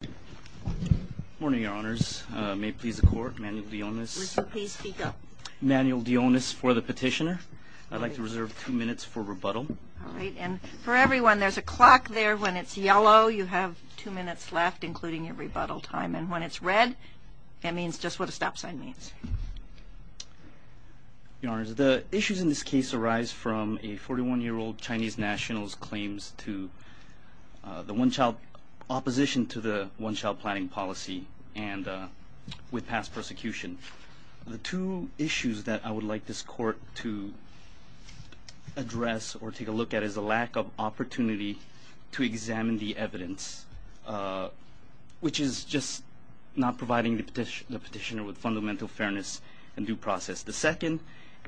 Good morning, Your Honors. May it please the Court, Manuel Dionis. Please speak up. Manuel Dionis for the petitioner. I'd like to reserve two minutes for rebuttal. All right. And for everyone, there's a clock there. When it's yellow, you have two minutes left, including your rebuttal time. And when it's red, that means just what a stop sign means. Your Honors, the issues in this case arise from a 41-year-old Chinese national's claims to the one-child opposition to the one-child planning policy and with past persecution. The two issues that I would like this Court to address or take a look at is a lack of opportunity to examine the evidence, which is just not providing the petitioner with fundamental fairness and due process. The second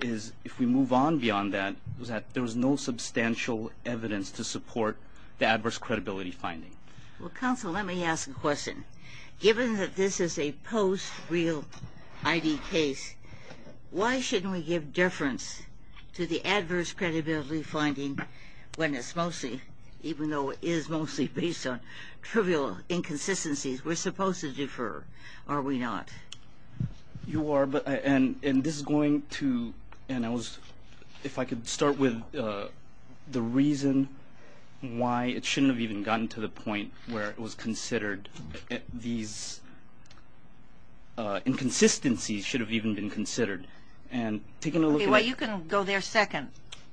is, if we move on beyond that, is that there is no substantial evidence to support the adverse credibility finding. Well, Counsel, let me ask a question. Given that this is a post-real ID case, why shouldn't we give difference to the adverse credibility finding when it's mostly, even though it is mostly based on trivial inconsistencies, we're supposed to defer, are we not? You are, and this is going to, and I was, if I could start with the reason why it shouldn't have even gotten to the point where it was considered these inconsistencies should have even been considered. Okay, well, you can go there second.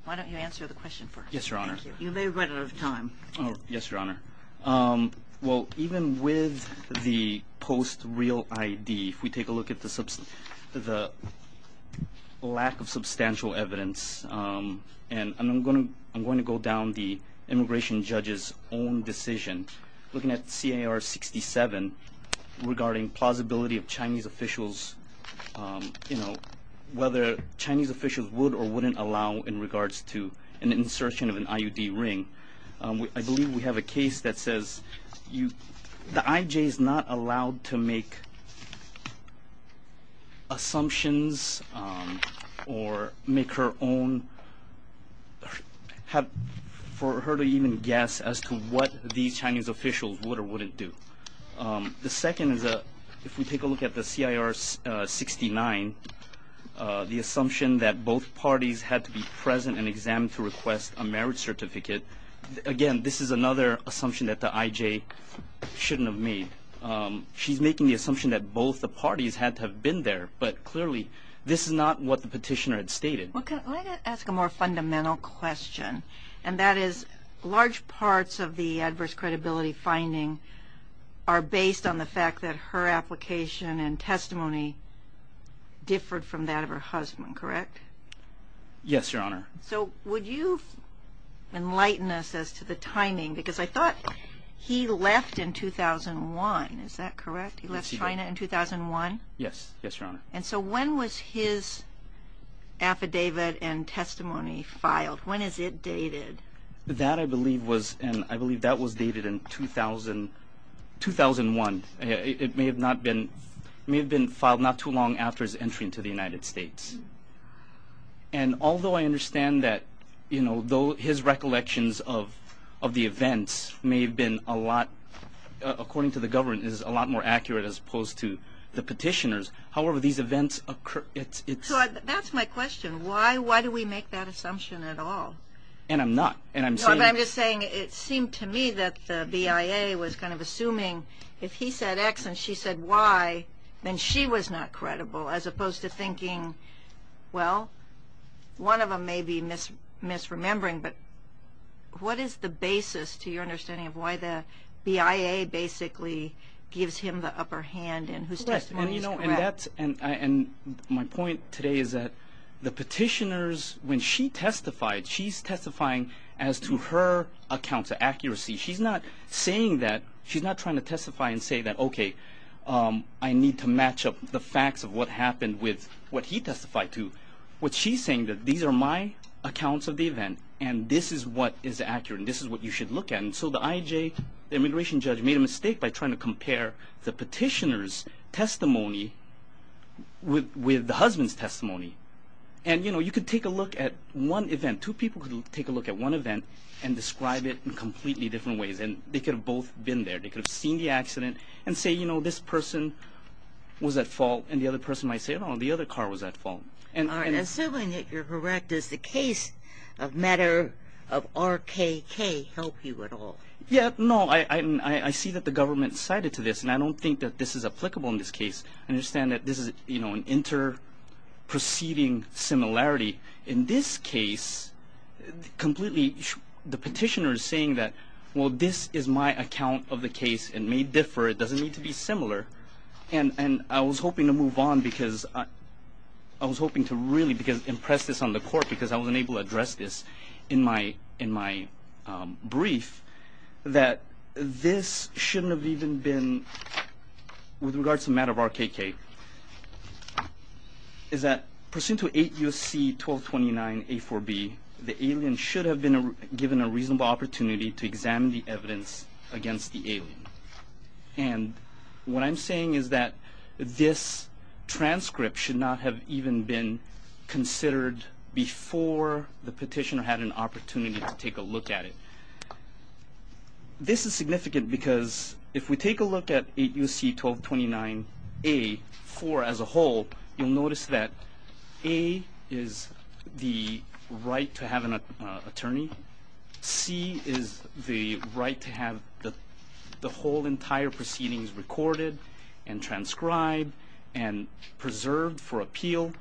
Why don't you answer the question first? Yes, Your Honor. You may have run out of time. Yes, Your Honor. Well, even with the post-real ID, if we take a look at the lack of substantial evidence, and I'm going to go down the immigration judge's own decision, looking at CAR 67 regarding plausibility of Chinese officials, whether Chinese officials would or wouldn't allow in regards to an insertion of an IUD ring. I believe we have a case that says the IJ is not allowed to make assumptions or make her own, for her to even guess as to what these Chinese officials would or wouldn't do. The second is, if we take a look at the CIR 69, the assumption that both parties had to be present and examined to request a marriage certificate. Again, this is another assumption that the IJ shouldn't have made. She's making the assumption that both the parties had to have been there, but clearly this is not what the petitioner had stated. Well, can I ask a more fundamental question, and that is large parts of the adverse credibility finding are based on the fact that her application and testimony differed from that of her husband, correct? Yes, Your Honor. So would you enlighten us as to the timing? Because I thought he left in 2001, is that correct? He left China in 2001? Yes, Your Honor. And so when was his affidavit and testimony filed? When is it dated? That, I believe, was dated in 2001. It may have been filed not too long after his entry into the United States. And although I understand that his recollections of the events may have been a lot, according to the government, is a lot more accurate as opposed to the petitioner's, however, these events occur. That's my question. Why do we make that assumption at all? And I'm not. I'm just saying it seemed to me that the BIA was kind of assuming if he said X and she said Y, then she was not credible as opposed to thinking, well, one of them may be misremembering, but what is the basis to your understanding of why the BIA basically gives him the upper hand and whose testimony is correct? And my point today is that the petitioners, when she testified, she's testifying as to her account's accuracy. She's not saying that. Okay, I need to match up the facts of what happened with what he testified to. What she's saying is that these are my accounts of the event and this is what is accurate and this is what you should look at. And so the IJ, the immigration judge, made a mistake by trying to compare the petitioner's testimony with the husband's testimony. And, you know, you could take a look at one event. Two people could take a look at one event and describe it in completely different ways, and they could have both been there. They could have seen the accident and say, you know, this person was at fault, and the other person might say, no, the other car was at fault. Assuming that you're correct, does the case of matter of RKK help you at all? Yeah, no. I see that the government cited to this, and I don't think that this is applicable in this case. I understand that this is, you know, an inter-proceeding similarity. In this case, completely the petitioner is saying that, well, this is my account of the case. It may differ. It doesn't need to be similar. And I was hoping to move on because I was hoping to really impress this on the court because I wasn't able to address this in my brief that this shouldn't have even been, with regards to matter of RKK, is that pursuant to 8 U.S.C. 1229 A4B, the alien should have been given a reasonable opportunity to examine the evidence against the alien. And what I'm saying is that this transcript should not have even been considered before the petitioner had an opportunity to take a look at it. This is significant because if we take a look at 8 U.S.C. 1229 A4 as a whole, you'll notice that A is the right to have an attorney. C is the right to have the whole entire proceedings recorded and transcribed and preserved for appeal.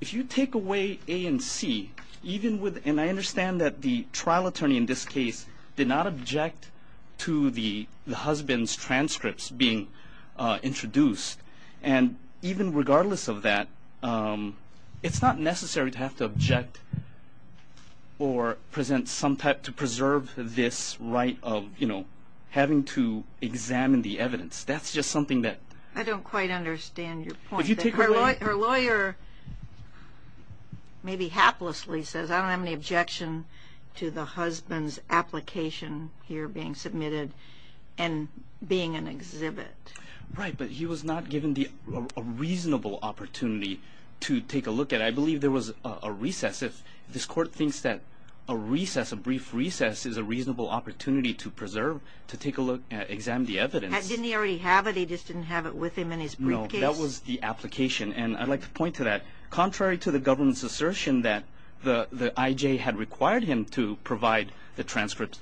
If you take away A and C, even with, and I understand that the trial attorney in this case did not object to the husband's transcripts being introduced, and even regardless of that, it's not necessary to have to object or present some type to preserve this right of, you know, having to examine the evidence. That's just something that. I don't quite understand your point. Her lawyer maybe haplessly says, I don't have any objection to the husband's application here being submitted and being an exhibit. Right, but he was not given a reasonable opportunity to take a look at it. I believe there was a recess. If this court thinks that a recess, a brief recess, is a reasonable opportunity to preserve, to take a look, examine the evidence. Didn't he already have it? He just didn't have it with him in his briefcase? No, that was the application, and I'd like to point to that. Contrary to the government's assertion that the IJ had required him to provide the transcripts,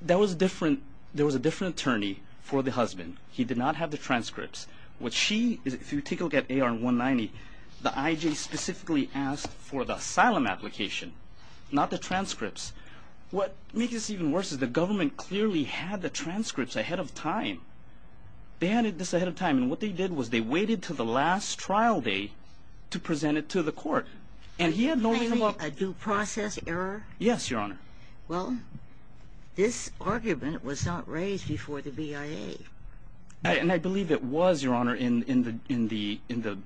there was a different attorney for the husband. He did not have the transcripts. What she, if you take a look at AR-190, the IJ specifically asked for the asylum application, not the transcripts. What makes this even worse is the government clearly had the transcripts ahead of time. They had this ahead of time, and what they did was they waited until the last trial day to present it to the court. And he had no reason why. A due process error? Yes, Your Honor. Well, this argument was not raised before the BIA. And I believe it was, Your Honor, in the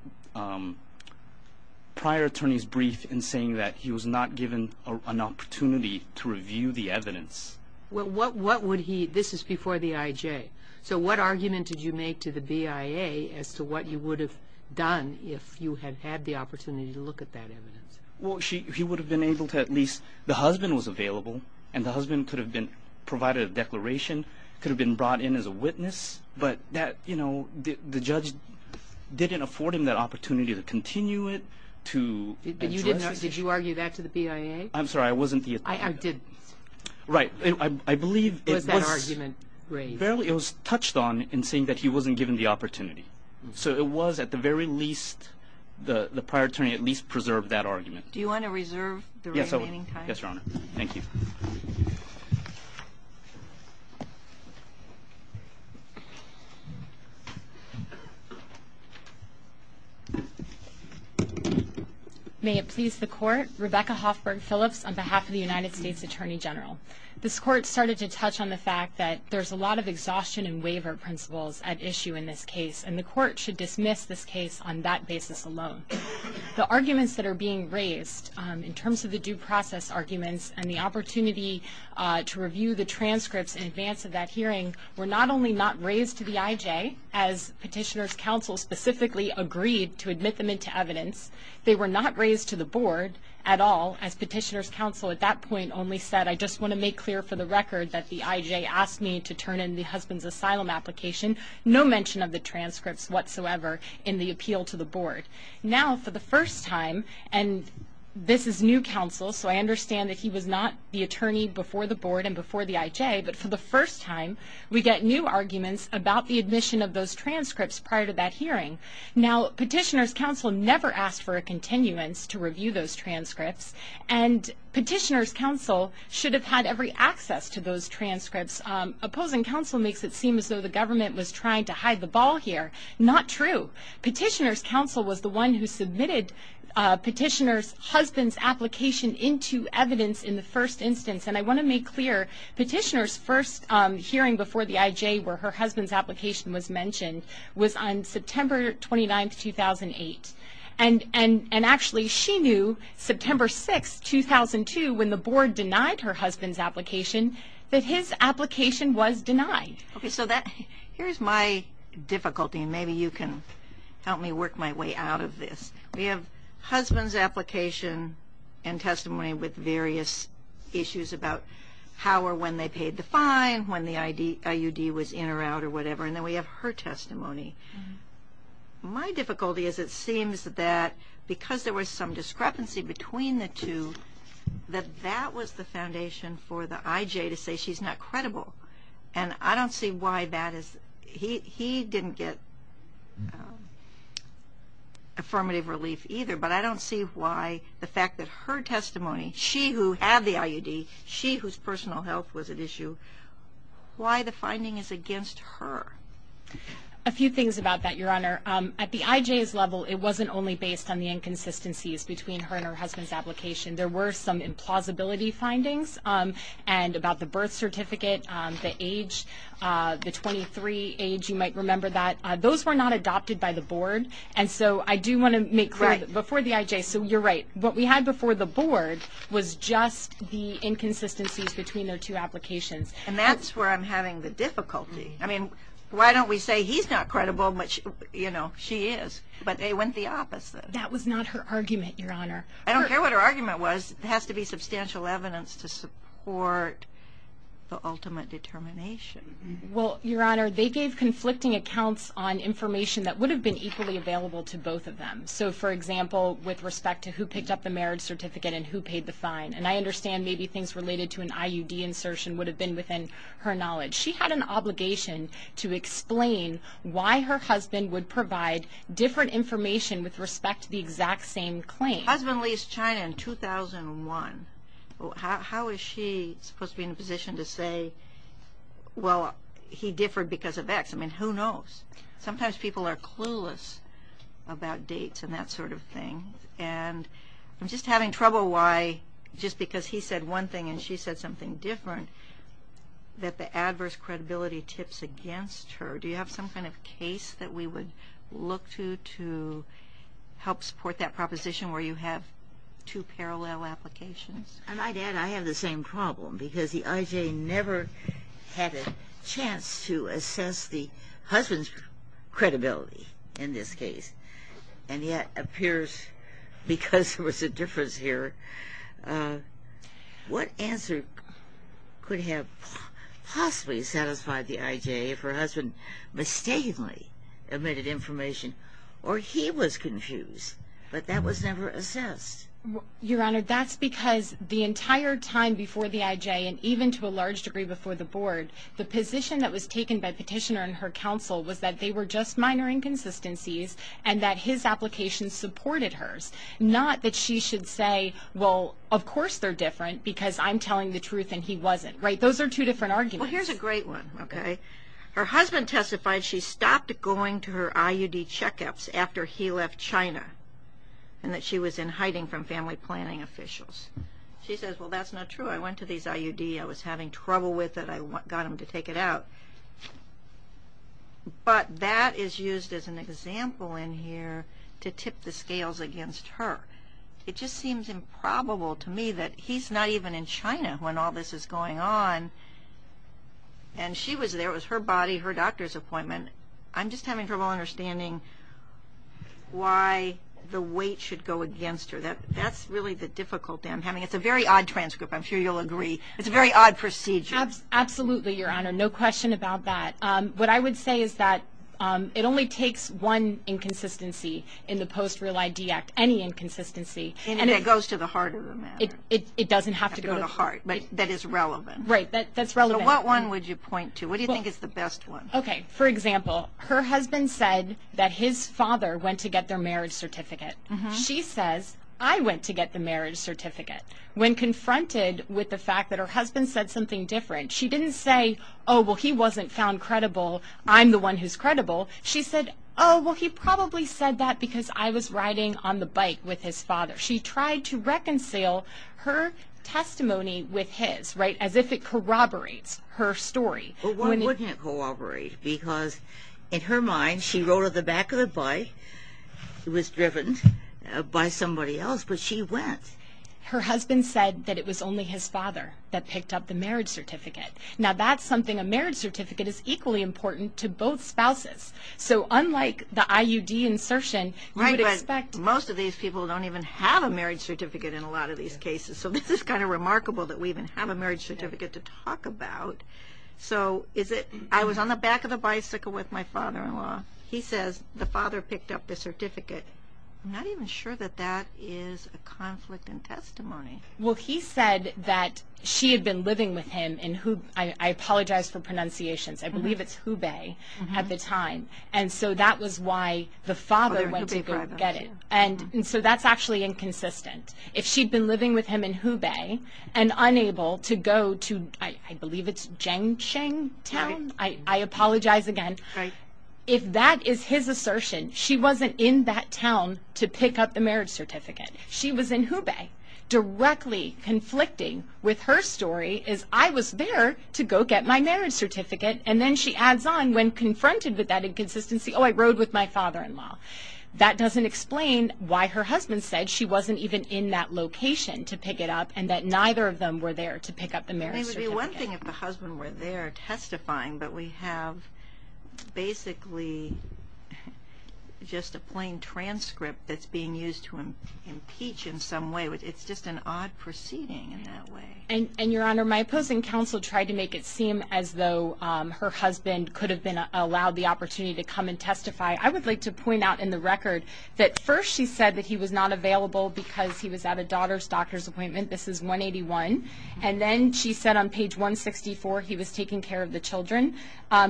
prior attorney's brief in saying that he was not given an opportunity to review the evidence. Well, what would he, this is before the IJ. So what argument did you make to the BIA as to what you would have done if you had had the opportunity to look at that evidence? Well, he would have been able to at least, the husband was available, and the husband could have provided a declaration, could have been brought in as a witness, but the judge didn't afford him that opportunity to continue it, to address it. Did you argue that to the BIA? I'm sorry, I wasn't the attorney. I didn't. Right. I believe it was touched on in saying that he wasn't given the opportunity. So it was at the very least, the prior attorney at least preserved that argument. Do you want to reserve the remaining time? Yes, Your Honor. Thank you. May it please the Court. Rebecca Hoffberg Phillips on behalf of the United States Attorney General. This Court started to touch on the fact that there's a lot of exhaustion and waiver principles at issue in this case, and the Court should dismiss this case on that basis alone. The arguments that are being raised in terms of the due process arguments and the opportunity to review the transcripts in advance of that hearing were not only not raised to the IJ, as Petitioner's Counsel specifically agreed to admit them into evidence, they were not raised to the Board at all, as Petitioner's Counsel at that point only said, I just want to make clear for the record that the IJ asked me to turn in the husband's asylum application, no mention of the transcripts whatsoever in the appeal to the Board. Now, for the first time, and this is new counsel, so I understand that he was not the attorney before the Board and before the IJ, but for the first time, we get new arguments about the admission of those transcripts prior to that hearing. Now, Petitioner's Counsel never asked for a continuance to review those transcripts, and Petitioner's Counsel should have had every access to those transcripts. Opposing counsel makes it seem as though the government was trying to hide the ball here. Not true. Petitioner's Counsel was the one who submitted Petitioner's husband's application into evidence in the first instance, and I want to make clear Petitioner's first hearing before the IJ where her husband's application was mentioned was on September 29, 2008, and actually she knew September 6, 2002, when the Board denied her husband's application, that his application was denied. Okay, so here's my difficulty, and maybe you can help me work my way out of this. We have husband's application and testimony with various issues about how or when they paid the fine, when the IUD was in or out or whatever, and then we have her testimony. My difficulty is it seems that because there was some discrepancy between the two, that that was the foundation for the IJ to say she's not credible, and I don't see why that is. He didn't get affirmative relief either, but I don't see why the fact that her testimony, she who had the IUD, she whose personal health was at issue, why the finding is against her. A few things about that, Your Honor. At the IJ's level, it wasn't only based on the inconsistencies between her and her husband's application. There were some implausibility findings, and about the birth certificate, the age, the 23 age, you might remember that. Those were not adopted by the Board, and so I do want to make clear before the IJ, so you're right, what we had before the Board was just the inconsistencies between their two applications. And that's where I'm having the difficulty. I mean, why don't we say he's not credible, but she is, but they went the opposite. That was not her argument, Your Honor. I don't care what her argument was. There has to be substantial evidence to support the ultimate determination. Well, Your Honor, they gave conflicting accounts on information that would have been equally available to both of them. So, for example, with respect to who picked up the marriage certificate and who paid the fine, and I understand maybe things related to an IUD insertion would have been within her knowledge. She had an obligation to explain why her husband would provide different information with respect to the exact same claim. Husband leased China in 2001. How is she supposed to be in a position to say, well, he differed because of X? I mean, who knows? Sometimes people are clueless about dates and that sort of thing. And I'm just having trouble why, just because he said one thing and she said something different, that the adverse credibility tips against her. Do you have some kind of case that we would look to to help support that proposition where you have two parallel applications? I might add I have the same problem because the IJ never had a chance to assess the husband's credibility in this case, and yet it appears because there was a difference here, what answer could have possibly satisfied the IJ if her husband mistakenly emitted information or he was confused, but that was never assessed? Your Honor, that's because the entire time before the IJ, and even to a large degree before the Board, the position that was taken by Petitioner and her counsel was that they were just minor inconsistencies and that his application supported hers. Not that she should say, well, of course they're different because I'm telling the truth and he wasn't. Those are two different arguments. Well, here's a great one. Her husband testified she stopped going to her IUD checkups after he left China and that she was in hiding from family planning officials. She says, well, that's not true. I went to these IUDs. I was having trouble with it. I got them to take it out. But that is used as an example in here to tip the scales against her. It just seems improbable to me that he's not even in China when all this is going on and she was there. It was her body, her doctor's appointment. I'm just having trouble understanding why the weight should go against her. That's really the difficulty I'm having. It's a very odd transcript. I'm sure you'll agree. It's a very odd procedure. Absolutely, Your Honor. No question about that. What I would say is that it only takes one inconsistency in the Post-Real ID Act, any inconsistency. And it goes to the heart of the matter. It doesn't have to go to the heart. But that is relevant. Right, that's relevant. So what one would you point to? What do you think is the best one? Okay, for example, her husband said that his father went to get their marriage certificate. She says, I went to get the marriage certificate. When confronted with the fact that her husband said something different, she didn't say, oh, well, he wasn't found credible, I'm the one who's credible. She said, oh, well, he probably said that because I was riding on the bike with his father. She tried to reconcile her testimony with his, right, as if it corroborates her story. Well, why wouldn't it corroborate? Because in her mind, she rode on the back of the bike. It was driven by somebody else, but she went. Her husband said that it was only his father that picked up the marriage certificate. Now, that's something a marriage certificate is equally important to both spouses. So unlike the IUD insertion, you would expect. Right, but most of these people don't even have a marriage certificate in a lot of these cases. So this is kind of remarkable that we even have a marriage certificate to talk about. So is it, I was on the back of the bicycle with my father-in-law. He says, the father picked up the certificate. I'm not even sure that that is a conflict in testimony. Well, he said that she had been living with him in Hubei. I apologize for pronunciations. I believe it's Hubei at the time. And so that was why the father went to go get it. And so that's actually inconsistent. If she'd been living with him in Hubei and unable to go to, I believe it's Jiangshan town. I apologize again. If that is his assertion, she wasn't in that town to pick up the marriage certificate. She was in Hubei. Directly conflicting with her story is, I was there to go get my marriage certificate. And then she adds on, when confronted with that inconsistency, oh, I rode with my father-in-law. That doesn't explain why her husband said she wasn't even in that location to pick it up and that neither of them were there to pick up the marriage certificate. It would be one thing if the husband were there testifying, but we have basically just a plain transcript that's being used to impeach in some way. It's just an odd proceeding in that way. And, Your Honor, my opposing counsel tried to make it seem as though her husband could have been allowed the opportunity to come and testify. I would like to point out in the record that first she said that he was not available because he was at a daughter's doctor's appointment. This is 181. And then she said on page 164 he was taking care of the children.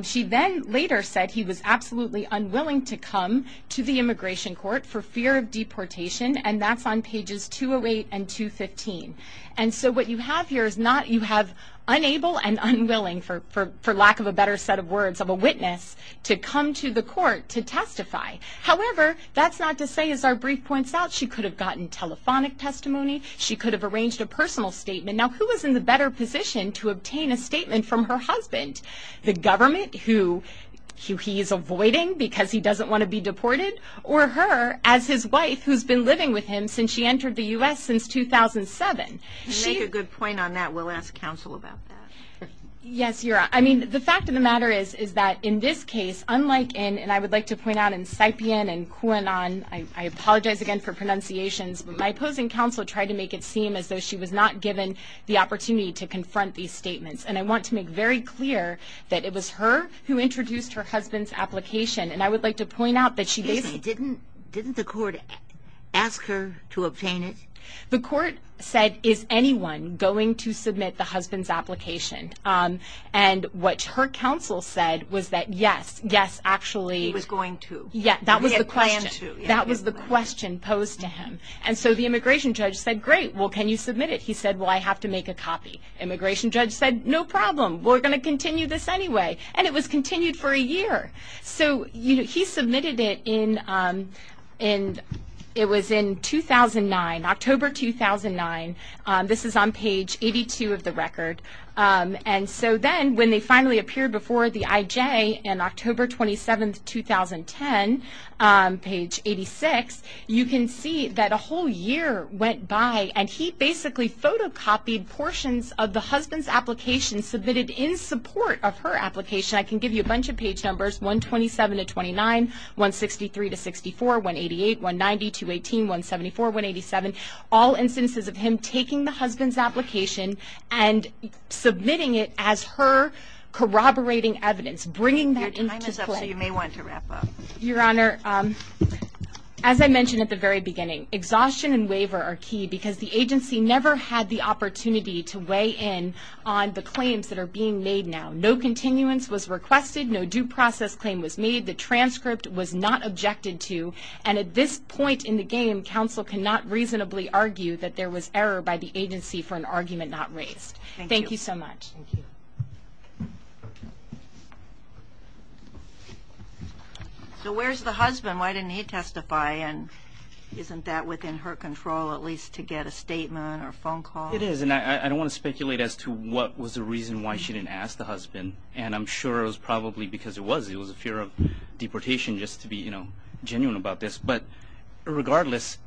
She then later said he was absolutely unwilling to come to the immigration court for fear of deportation, and that's on pages 208 and 215. And so what you have here is you have unable and unwilling, for lack of a better set of words, of a witness to come to the court to testify. However, that's not to say, as our brief points out, she could have gotten telephonic testimony, she could have arranged a personal statement. Now, who is in the better position to obtain a statement from her husband, the government who he is avoiding because he doesn't want to be deported, or her as his wife who's been living with him since she entered the U.S. since 2007? You make a good point on that. We'll ask counsel about that. Yes, Your Honor. I mean, the fact of the matter is that in this case, unlike in, and I would like to point out in Saipien and Kuanan, I apologize again for pronunciations, but my opposing counsel tried to make it seem as though she was not given the opportunity to confront these statements. And I want to make very clear that it was her who introduced her husband's application, and I would like to point out that she basically didn't. Didn't the court ask her to obtain it? The court said, is anyone going to submit the husband's application? And what her counsel said was that, yes, yes, actually. He was going to. Yeah, that was the question. He had planned to. And so the immigration judge said, great, well, can you submit it? He said, well, I have to make a copy. Immigration judge said, no problem, we're going to continue this anyway. And it was continued for a year. So he submitted it in, it was in 2009, October 2009. This is on page 82 of the record. And so then when they finally appeared before the IJ on October 27, 2010, page 86, you can see that a whole year went by, and he basically photocopied portions of the husband's application submitted in support of her application. I can give you a bunch of page numbers, 127-29, 163-64, 188, 190, 218, 174, 187, all instances of him taking the husband's application and submitting it as her corroborating evidence, bringing that into play. Your time is up, so you may want to wrap up. Your Honor, as I mentioned at the very beginning, exhaustion and waiver are key because the agency never had the opportunity to weigh in on the claims that are being made now. No continuance was requested, no due process claim was made, the transcript was not objected to, and at this point in the game, counsel cannot reasonably argue that there was error by the agency for an argument not raised. Thank you so much. Thank you. So where's the husband? Why didn't he testify? And isn't that within her control at least to get a statement or a phone call? It is, and I don't want to speculate as to what was the reason why she didn't ask the husband, and I'm sure it was probably because it was. It was a fear of deportation just to be, you know, genuine about this. But regardless,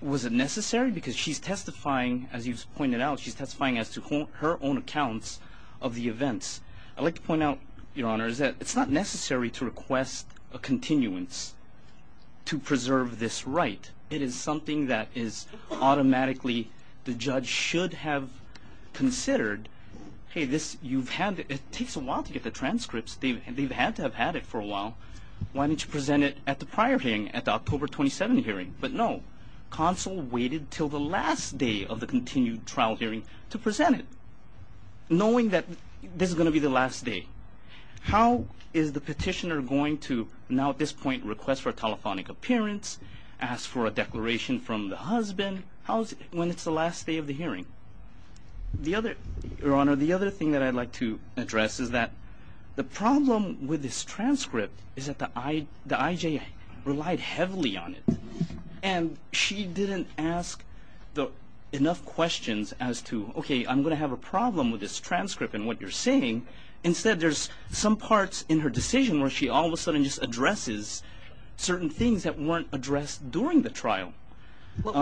was it necessary? It was necessary because she's testifying, as you've pointed out, she's testifying as to her own accounts of the events. I'd like to point out, Your Honor, that it's not necessary to request a continuance to preserve this right. It is something that is automatically the judge should have considered. Hey, you've had it. It takes a while to get the transcripts. They've had to have had it for a while. Why didn't you present it at the prior hearing, at the October 27 hearing? But no, counsel waited until the last day of the continued trial hearing to present it, knowing that this is going to be the last day. How is the petitioner going to now at this point request for a telephonic appearance, ask for a declaration from the husband when it's the last day of the hearing? Your Honor, the other thing that I'd like to address is that the problem with this transcript is that the IJA relied heavily on it, and she didn't ask enough questions as to, okay, I'm going to have a problem with this transcript and what you're saying. Instead, there's some parts in her decision where she all of a sudden just addresses certain things that weren't addressed during the trial. What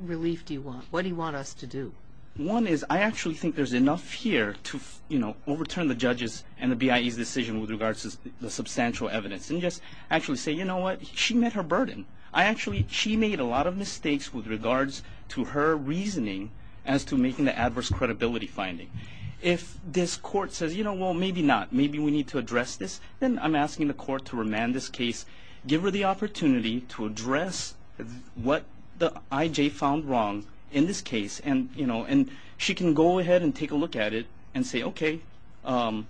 relief do you want? What do you want us to do? One is I actually think there's enough here to, you know, and just actually say, you know what, she met her burden. She made a lot of mistakes with regards to her reasoning as to making the adverse credibility finding. If this court says, you know, well, maybe not, maybe we need to address this, then I'm asking the court to remand this case, give her the opportunity to address what the IJA found wrong in this case, and she can go ahead and take a look at it and say, okay, I've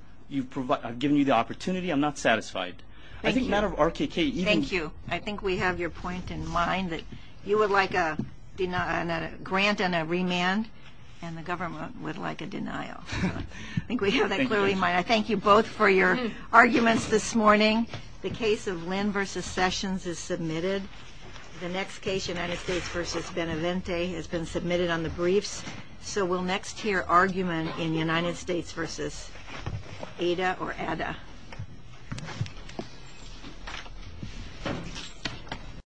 given you the opportunity, I'm not satisfied. I think the matter of RKK even – Thank you. I think we have your point in mind that you would like a grant and a remand, and the government would like a denial. I think we have that clearly in mind. I thank you both for your arguments this morning. The case of Lynn v. Sessions is submitted. The next case, United States v. Benevente, has been submitted on the briefs. So we'll next hear argument in United States v. Ada or Ada.